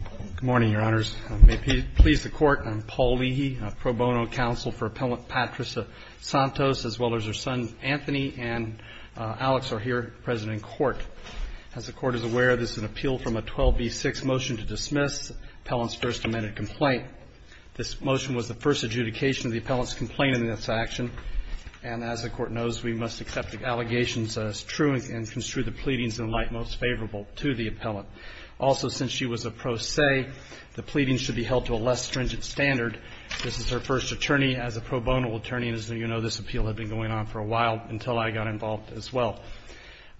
Good morning, Your Honors. I am Paul Leahy, Pro Bono Counsel for Appellant Patrissa Santos, as well as her son Anthony and Alex O'Here, President and Court. As the Court is aware, this is an appeal from a 12B6 motion to dismiss the Appellant's first amended complaint. This motion was the first adjudication of the Appellant's complaint in this action. And as the Court knows, we must accept the allegations as true and construe the pleadings in light most favorable to the Appellant. Also, since she was a pro se, the pleadings should be held to a less stringent standard. This is her first attorney as a pro bono attorney, and as you know, this appeal had been going on for a while until I got involved as well.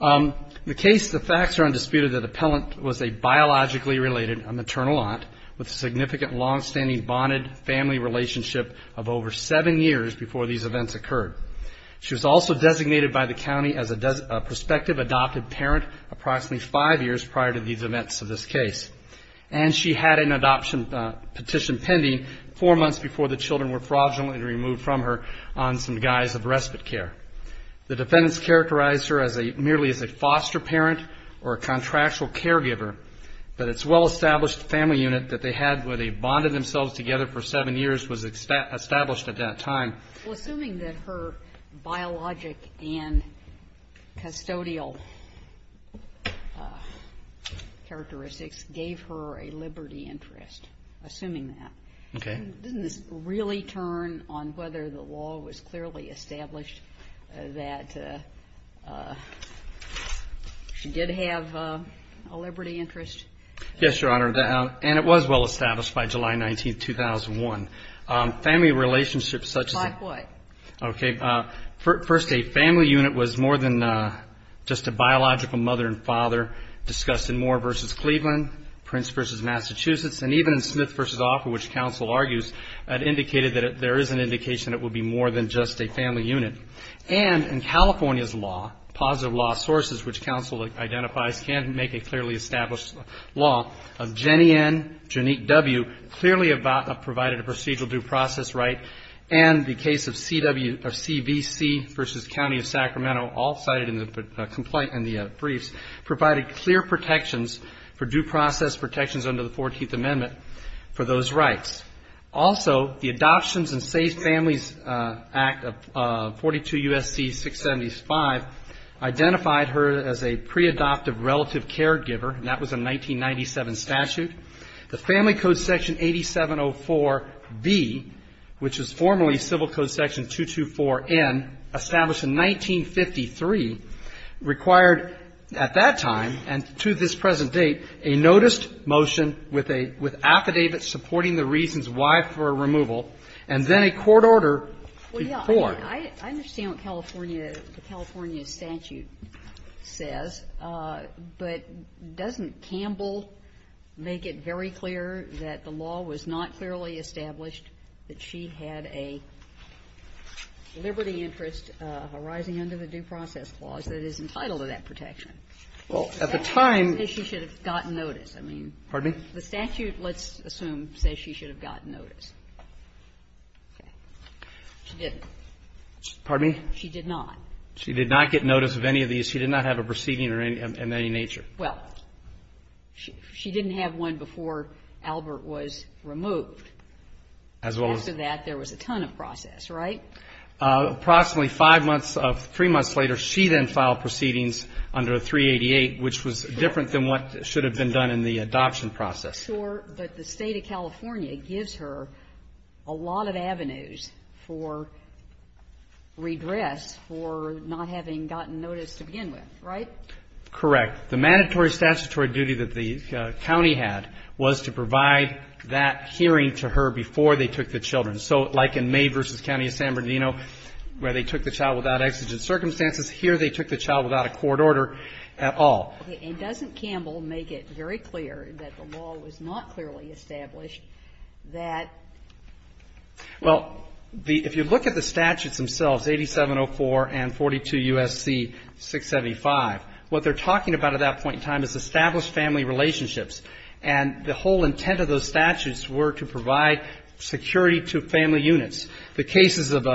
The facts are undisputed that the Appellant was a biologically related maternal aunt with a significant longstanding bonded family relationship of over seven years before these events occurred. She was also designated by the county as a prospective adopted parent approximately five years prior to these events of this case. And she had an adoption petition pending four months before the children were fraudulently removed from her on some guise of respite care. The defendants characterized her merely as a foster parent or a contractual caregiver, but its well-established family unit that they had where they bonded themselves together for seven years was established at that time. Well, assuming that her biologic and custodial characteristics gave her a liberty interest, assuming that, doesn't this really turn on whether the law was clearly established that she did have a liberty interest? Yes, Your Honor, and it was well-established by July 19th, 2001. Family relationships such as... Like what? Okay. First, a family unit was more than just a biological mother and father discussed in Moore v. Cleveland, Prince v. Massachusetts, and even in Smith v. Offer, which counsel argues had indicated that there is an indication it would be more than just a family unit. And in California's law, positive law sources which counsel identifies can make a clearly established law, Jenny N., Janique W. clearly provided a procedural due process right, and the case of CBC v. County of Sacramento, all cited in the briefs, provided clear protections for due process protections under the 14th Amendment for those rights. Also, the Adoptions and Safe Families Act of 42 U.S.C. 675 identified her as a pre-adoptive relative caregiver, and that was a 1997 statute. The Family Code Section 8704B, which was formerly Civil Code Section 224N, established in 1953, required at that time and to this present date a noticed motion with a – with affidavit supporting the reasons why for a removal and then a court order before. Well, yeah. I mean, I understand what California – the California statute says, but doesn't Campbell make it very clear that the law was not clearly established, that she had a liberty interest arising under the Due Process Clause that is entitled to that protection? Well, at the time – That doesn't say she should have gotten notice. I mean, the statute, let's assume, says she should have gotten notice. She didn't. Pardon me? She did not. She did not get notice of any of these. She did not have a proceeding of any nature. Well, she didn't have one before Albert was removed. As well as – After that, there was a ton of process, right? Approximately five months – three months later, she then filed proceedings under 388, which was different than what should have been done in the adoption process. Sure. But the State of California gives her a lot of avenues for redress for not having gotten notice to begin with, right? Correct. The mandatory statutory duty that the county had was to provide that hearing to her before they took the children. So like in May v. County of San Bernardino, where they took the child without exigent circumstances, here they took the child without a court order at all. Okay. And doesn't Campbell make it very clear that the law was not clearly established, that – Well, if you look at the statutes themselves, 8704 and 42 U.S.C. 675, what they're talking about at that point in time is established family relationships. And the whole intent of those statutes were to provide security to family units. The cases of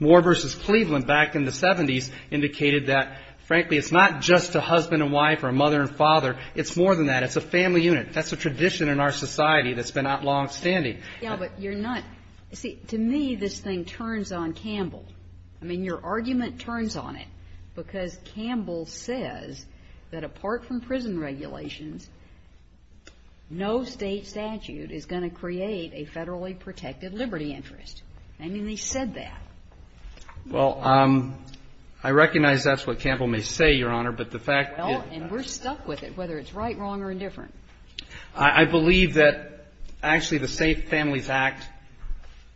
Moore v. Cleveland back in the 70s indicated that, frankly, it's not just a husband and wife or a mother and father, it's more than that. It's a family unit. That's a tradition in our society that's been out longstanding. Yeah, but you're not – see, to me, this thing turns on Campbell. I mean, your argument turns on it because Campbell says that apart from prison regulations, no State statute is going to create a federally protected liberty interest. I mean, they said that. Well, I recognize that's what Campbell may say, Your Honor, but the fact that – Well, and we're stuck with it, whether it's right, wrong, or indifferent. I believe that actually the Safe Families Act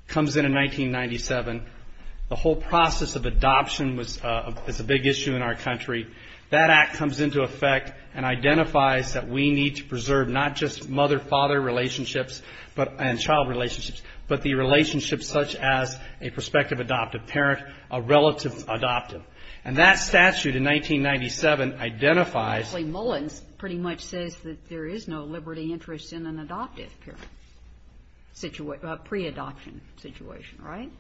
comes in in 1997. The whole process of adoption is a big issue in our country. That act comes into effect and identifies that we need to preserve not just mother-father relationships and child relationships, but the relationships such as a prospective adoptive parent, a relative adoptive. And that statute in 1997 identifies – Actually, Mullins pretty much says that there is no liberty interest in an adoptive parent – pre-adoption situation, right?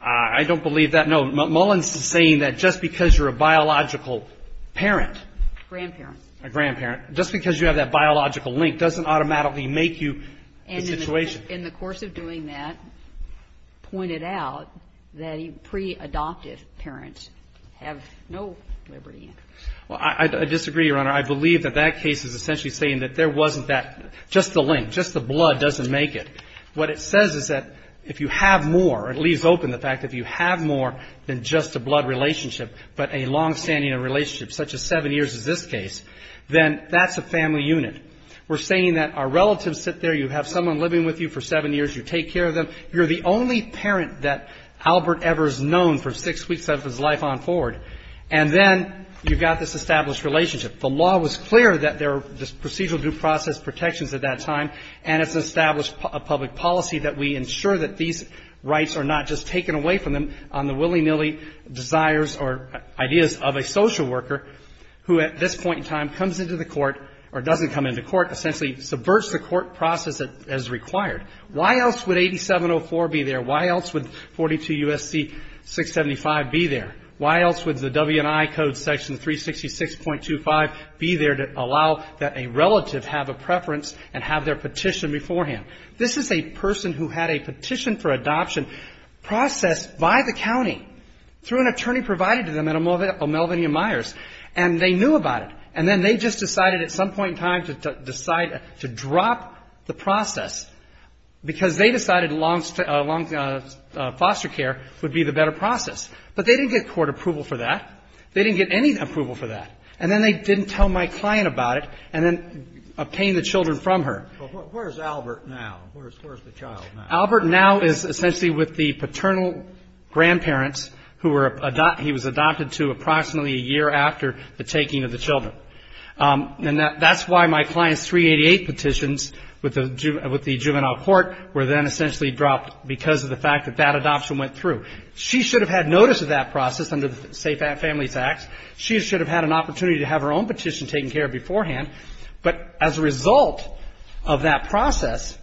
I don't believe that. No, Mullins is saying that just because you're a biological parent – Grandparent. A grandparent. Just because you have that biological link doesn't automatically make you the situation. And in the course of doing that, pointed out that pre-adoptive parents have no liberty interest. Well, I disagree, Your Honor. I believe that that case is essentially saying that there wasn't that – just the link, just the blood doesn't make it. What it says is that if you have more – it leaves open the fact that if you have more than just a blood relationship, but a longstanding relationship, such as seven years as this case, then that's a family unit. We're saying that our relatives sit there. You have someone living with you for seven years. You take care of them. You're the only parent that Albert ever has known for six weeks of his life on forward. And then you've got this established relationship. The law was clear that there are just procedural due process protections at that time, and it's established a public policy that we ensure that these rights are not just taken away from them on the willy-nilly desires or ideas of a social worker who at this point in time comes into the court or doesn't come into court, essentially subverts the court process as required. Why else would 8704 be there? Why else would 42 U.S.C. 675 be there? Why else would the W&I Code Section 366.25 be there to allow that a relative have a preference and have their petition beforehand? This is a person who had a petition for adoption processed by the county through an attorney provided to them at O'Melvenia Myers, and they knew about it. And then they just decided at some point in time to decide to drop the process because they decided foster care would be the better process. But they didn't get court approval for that. They didn't get any approval for that. And then they didn't tell my client about it and then obtain the children from her. But where's Albert now? Where's the child now? Albert now is essentially with the paternal grandparents who he was adopted to approximately a year after the taking of the children. And that's why my client's 388 petitions with the juvenile court were then essentially dropped because of the fact that that adoption went through. She should have had notice of that process under the Safe Families Act. She should have had an opportunity to have her own petition taken care of beforehand. But as a result of that process,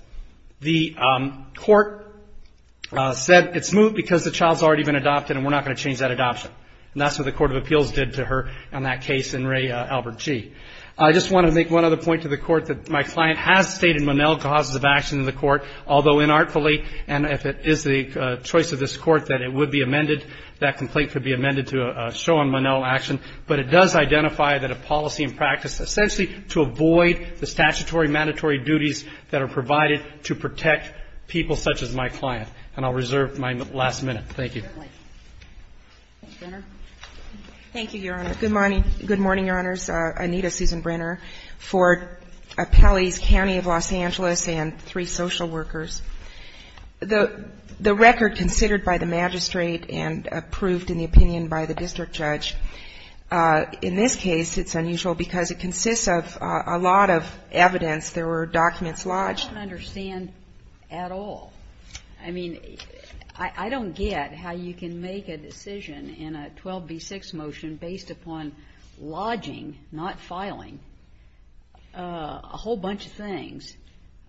the court said it's moved because the child's already been adopted and we're not going to change that adoption. And that's what the Court of Appeals did to her on that case in Ray Albert G. I just want to make one other point to the court that my client has stated Monell causes of action in the court, although inartfully. And if it is the choice of this court that it would be amended, that complaint could be amended to show on Monell action. But it does identify that a policy and practice essentially to avoid the statutory mandatory duties that are provided to protect people such as my client. And I'll reserve my last minute. Thank you. Ms. Brenner. Thank you, Your Honor. Good morning, Your Honors. Anita Susan Brenner for Pelley's County of Los Angeles and three social workers. The record considered by the magistrate and approved in the opinion by the district judge, in this case it's unusual because it consists of a lot of evidence. There were documents lodged. I don't understand at all. I mean, I don't get how you can make a decision in a 12b6 motion based upon lodging, not filing, a whole bunch of things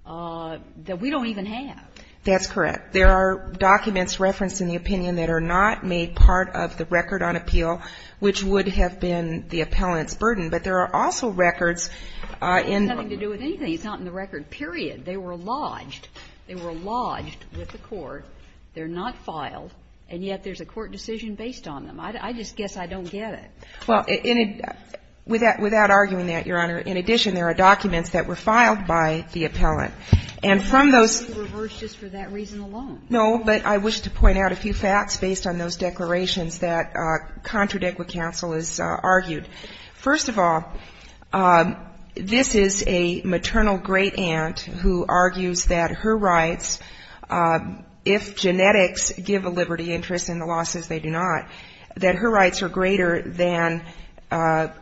that we don't even have. That's correct. There are documents referenced in the opinion that are not made part of the record on appeal, which would have been the appellant's burden. But there are also records in the record. It has nothing to do with anything. It's not in the record, period. They were lodged. They were lodged with the court. They're not filed, and yet there's a court decision based on them. I just guess I don't get it. Well, without arguing that, Your Honor, in addition, there are documents that were filed by the appellant. And from those — I thought you reversed just for that reason alone. No, but I wish to point out a few facts based on those declarations that contradict what counsel has argued. First of all, this is a maternal great aunt who argues that her rights, if genetics give a liberty interest and the law says they do not, that her rights are greater than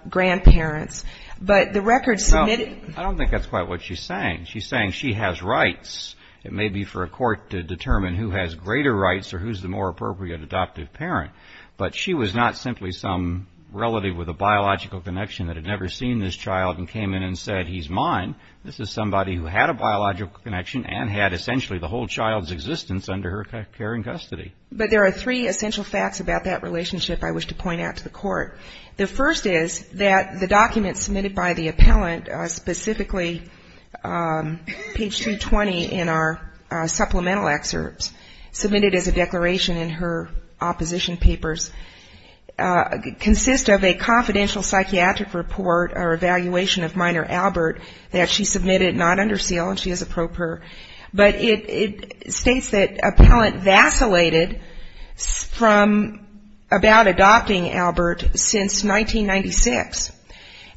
grandparents. But the record — No, I don't think that's quite what she's saying. She's saying she has rights. It may be for a court to determine who has greater rights or who's the more appropriate adoptive parent. But she was not simply some relative with a biological connection that had never seen this child and came in and said, he's mine. This is somebody who had a biological connection and had essentially the whole child's existence under her care and custody. But there are three essential facts about that relationship I wish to point out to the court. The first is that the document submitted by the appellant, specifically page 220 in our supplemental excerpts, submitted as a declaration in her opposition papers, consists of a confidential psychiatric report or evaluation of minor Albert that she submitted not under seal and she is a pro per. But it states that appellant vacillated from — about adopting Albert since 1996.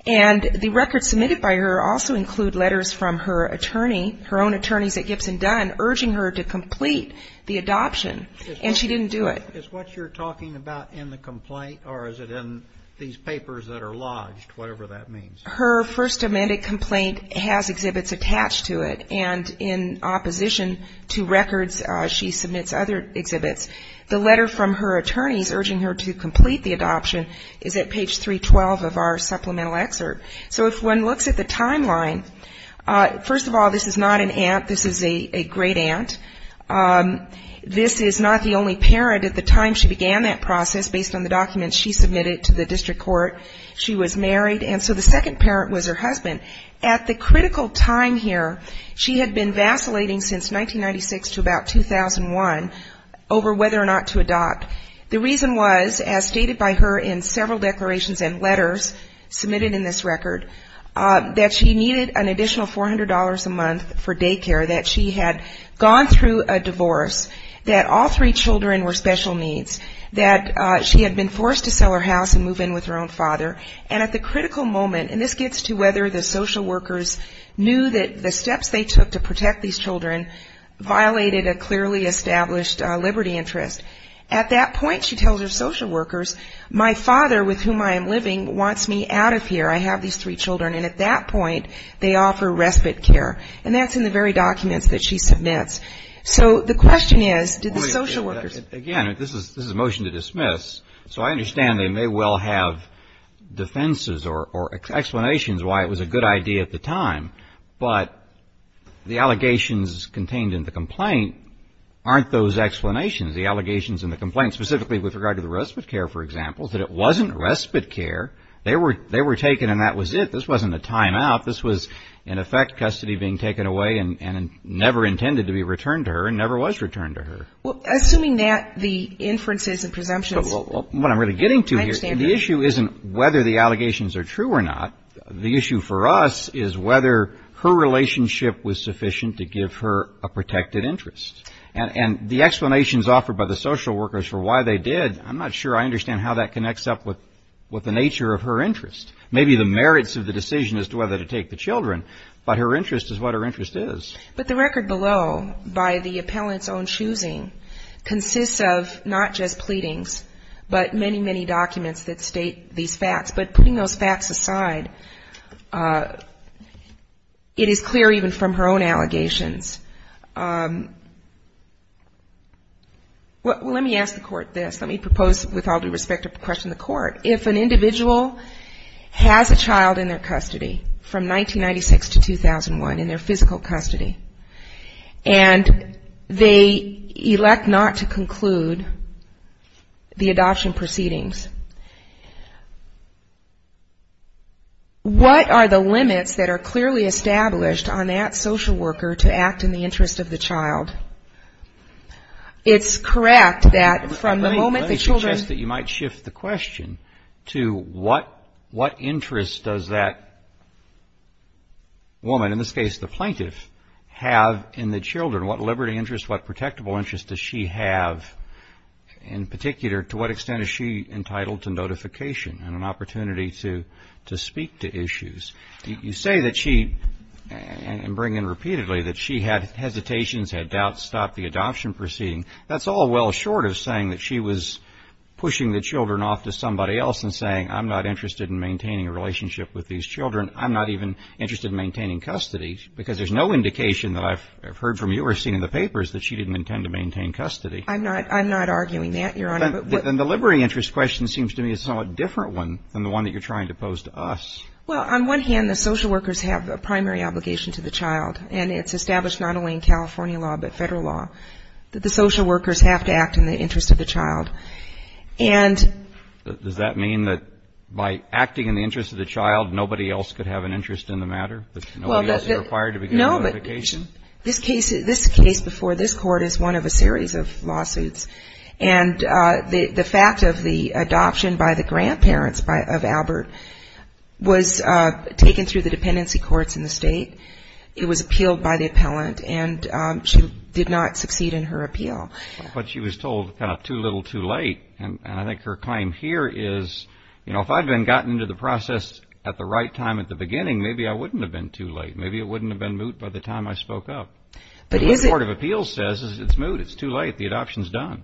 And the records submitted by her also include letters from her attorney, her own attorneys at Gibson Dunn, urging her to complete the adoption. And she didn't do it. Is what you're talking about in the complaint or is it in these papers that are lodged, whatever that means? Her first amended complaint has exhibits attached to it. And in opposition to records, she submits other exhibits. The letter from her attorneys urging her to complete the adoption is at page 312 of our supplemental excerpt. So if one looks at the timeline, first of all, this is not an aunt. This is a great aunt. This is not the only parent at the time she began that process based on the documents she submitted to the district court. She was married. And so the second parent was her husband. At the critical time here, she had been vacillating since 1996 to about 2001 over whether or not to adopt. The reason was, as stated by her in several declarations and letters submitted in this record, that she needed an additional $400 a month for daycare, that she had gone through a divorce, that all three children were special needs, that she had been forced to sell her house and move in with her own father. And at the critical moment, and this gets to whether the social workers knew that the steps they took to protect these children violated a clearly established liberty interest. At that point, she tells her social workers, my father, with whom I am living, wants me out of here. I have these three children. And at that point, they offer respite care. And that's in the very documents that she submits. So the question is, did the social workers --. defenses or explanations why it was a good idea at the time, but the allegations contained in the complaint aren't those explanations, the allegations in the complaint, specifically with regard to the respite care, for example, that it wasn't respite care. They were taken and that was it. This wasn't a time out. This was, in effect, custody being taken away and never intended to be returned to her and never was returned to her. Well, assuming that the inferences and presumptions- What I'm really getting to here, the issue isn't whether the allegations are true or not. The issue for us is whether her relationship was sufficient to give her a protected interest. And the explanations offered by the social workers for why they did, I'm not sure I understand how that connects up with the nature of her interest. Maybe the merits of the decision as to whether to take the children, but her interest is what her interest is. But the record below, by the appellant's own choosing, consists of not just pleadings, but many, many documents that state these facts. But putting those facts aside, it is clear even from her own allegations. Let me ask the court this. Let me propose, with all due respect, to question the court. If an individual has a child in their custody from 1996 to 2001, in their physical custody, and they elect not to conclude the adoption proceedings, what are the limits that are clearly established on that social worker to act in the interest of the child? It's correct that from the moment the children- to what interest does that woman, in this case the plaintiff, have in the children? What liberty interest, what protectable interest does she have? In particular, to what extent is she entitled to notification and an opportunity to speak to issues? You say that she, and bring in repeatedly, that she had hesitations, had doubts, stopped the adoption proceeding. That's all well short of saying that she was pushing the children off to somebody else and saying, I'm not interested in maintaining a relationship with these children. I'm not even interested in maintaining custody, because there's no indication that I've heard from you or seen in the papers that she didn't intend to maintain custody. I'm not arguing that, Your Honor. Then the liberty interest question seems to me a somewhat different one than the one that you're trying to pose to us. Well, on one hand, the social workers have a primary obligation to the child, and it's the social workers have to act in the interest of the child. And does that mean that by acting in the interest of the child, nobody else could have an interest in the matter, that nobody else is required to be given a notification? No, but this case before this Court is one of a series of lawsuits. And the fact of the adoption by the grandparents of Albert was taken through the dependency courts in the State. It was appealed by the appellant, and she did not succeed in her appeal. But she was told kind of too little, too late. And I think her claim here is, you know, if I'd been gotten into the process at the right time at the beginning, maybe I wouldn't have been too late. Maybe it wouldn't have been moot by the time I spoke up. But what the Court of Appeals says is it's moot, it's too late, the adoption's done.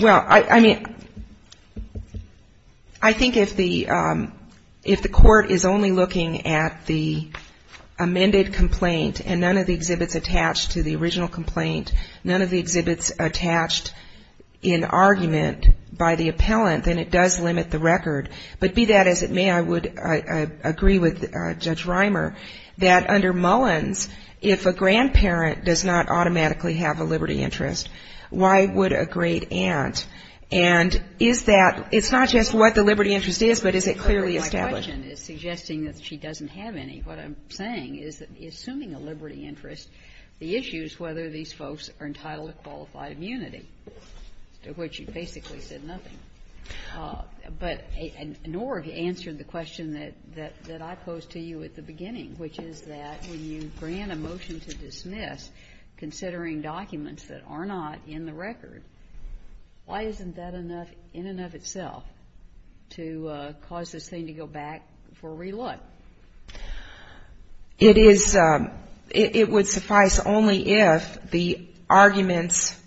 Well, I mean, I think if the Court is only looking at the amended complaint and none of the exhibits attached to the original complaint, none of the exhibits attached in argument by the appellant, then it does limit the record. But be that as it may, I would agree with Judge Reimer that under Mullins, if a grandparent does not automatically have a liberty interest, why would a great aunt? And is that — it's not just what the liberty interest is, but is it clearly established? My question is suggesting that she doesn't have any. What I'm saying is that assuming a liberty interest, the issue is whether these folks are entitled to qualified immunity, to which you basically said nothing. But Norg answered the question that I posed to you at the beginning, which is that when you grant a motion to dismiss, considering documents that are not in the record, why isn't that enough in and of itself to cause this thing to go back for relook? It is — it would suffice only if the arguments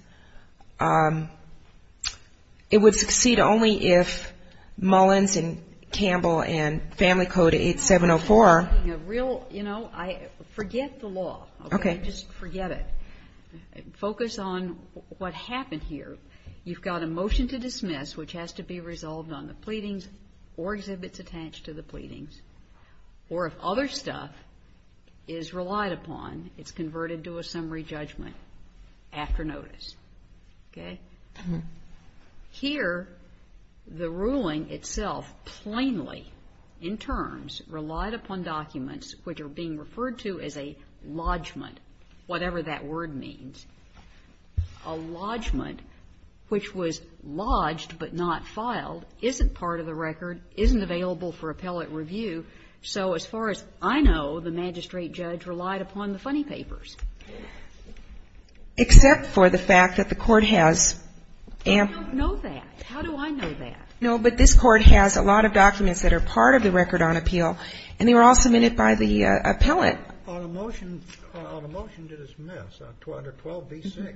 — it would succeed only if the arguments — it would succeed only if Mullins and Campbell and Family Code 8704 — You know, real — you know, forget the law. Okay. Just forget it. Focus on what happened here. You've got a motion to dismiss, which has to be resolved on the pleadings or exhibits attached to the pleadings, or if other stuff is relied upon, it's converted to a summary judgment after notice. Okay? Here, the ruling itself plainly, in terms, relied upon documents which are being referred to as a lodgment, whatever that word means. A lodgment which was lodged but not filed isn't part of the record, isn't available for appellate review. So as far as I know, the magistrate judge relied upon the funny papers. Except for the fact that the court has — I don't know that. How do I know that? No, but this court has a lot of documents that are part of the record on appeal, and they were all submitted by the appellate. On a motion to dismiss, under 12b-6,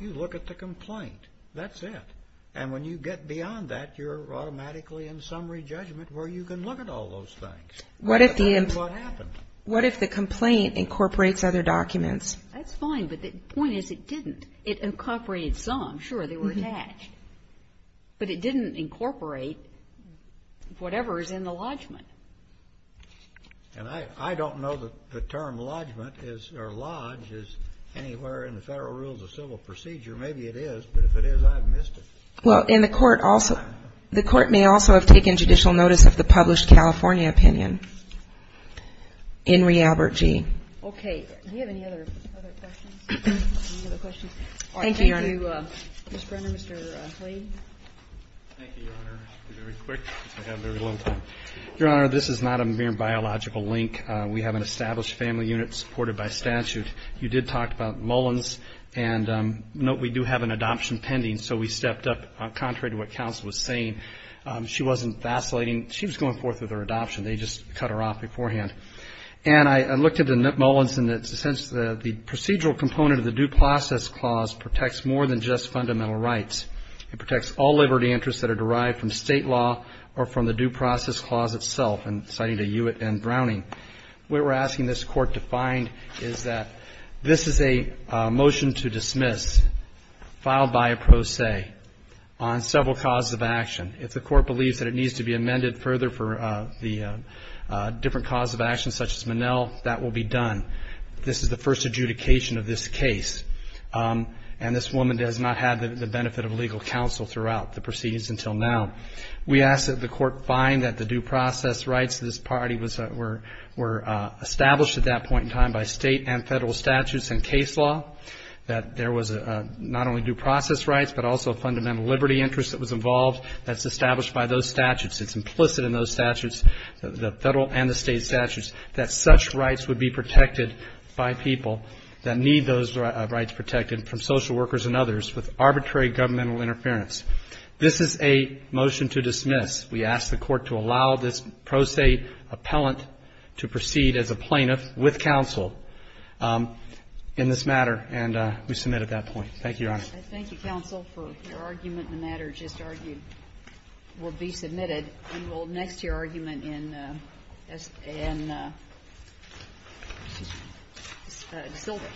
you look at the complaint. That's it. And when you get beyond that, you're automatically in summary judgment where you can look at all those things. What if the — What happened? That's fine, but the point is it didn't. It incorporated some. Sure, they were attached. But it didn't incorporate whatever is in the lodgment. And I don't know that the term lodgment is — or lodge is anywhere in the Federal Rules of Civil Procedure. Maybe it is, but if it is, I've missed it. Well, and the court also — the court may also have taken judicial notice of the published California opinion. Enri Albertje. Okay. Do you have any other questions? Thank you, Your Honor. All right. Thank you, Mr. Brenner. Mr. Clay. Thank you, Your Honor. I'll be very quick because I have a very long time. Your Honor, this is not a mere biological link. We have an established family unit supported by statute. You did talk about Mullins, and note we do have an adoption pending, so we stepped up contrary to what counsel was saying. She wasn't vacillating. She was going forth with her adoption. They just cut her off beforehand. And I looked at Mullins in the sense that the procedural component of the Due Process Clause protects more than just fundamental rights. It protects all liberty interests that are derived from state law or from the Due Process Clause itself. And citing the Hewitt and Browning, what we're asking this Court to find is that this is a motion to dismiss, filed by a pro se, on several causes of action. If the Court believes that it needs to be amended further for the different causes of action, such as Minnell, that will be done. This is the first adjudication of this case, and this woman has not had the benefit of legal counsel throughout the proceedings until now. We ask that the Court find that the due process rights of this party were established at that point in time by state and federal statutes and case law, that there was not only due process rights, but also a fundamental liberty interest that was involved that's established by those statutes. It's implicit in those statutes, the federal and the state statutes, that such rights would be protected by people that need those rights protected from social workers and others with arbitrary governmental interference. This is a motion to dismiss. We ask the Court to allow this pro se appellant to proceed as a plaintiff with counsel Thank you, Your Honor. Thank you, counsel, for your argument. The matter just argued will be submitted. And we'll next hear argument in Sylvia.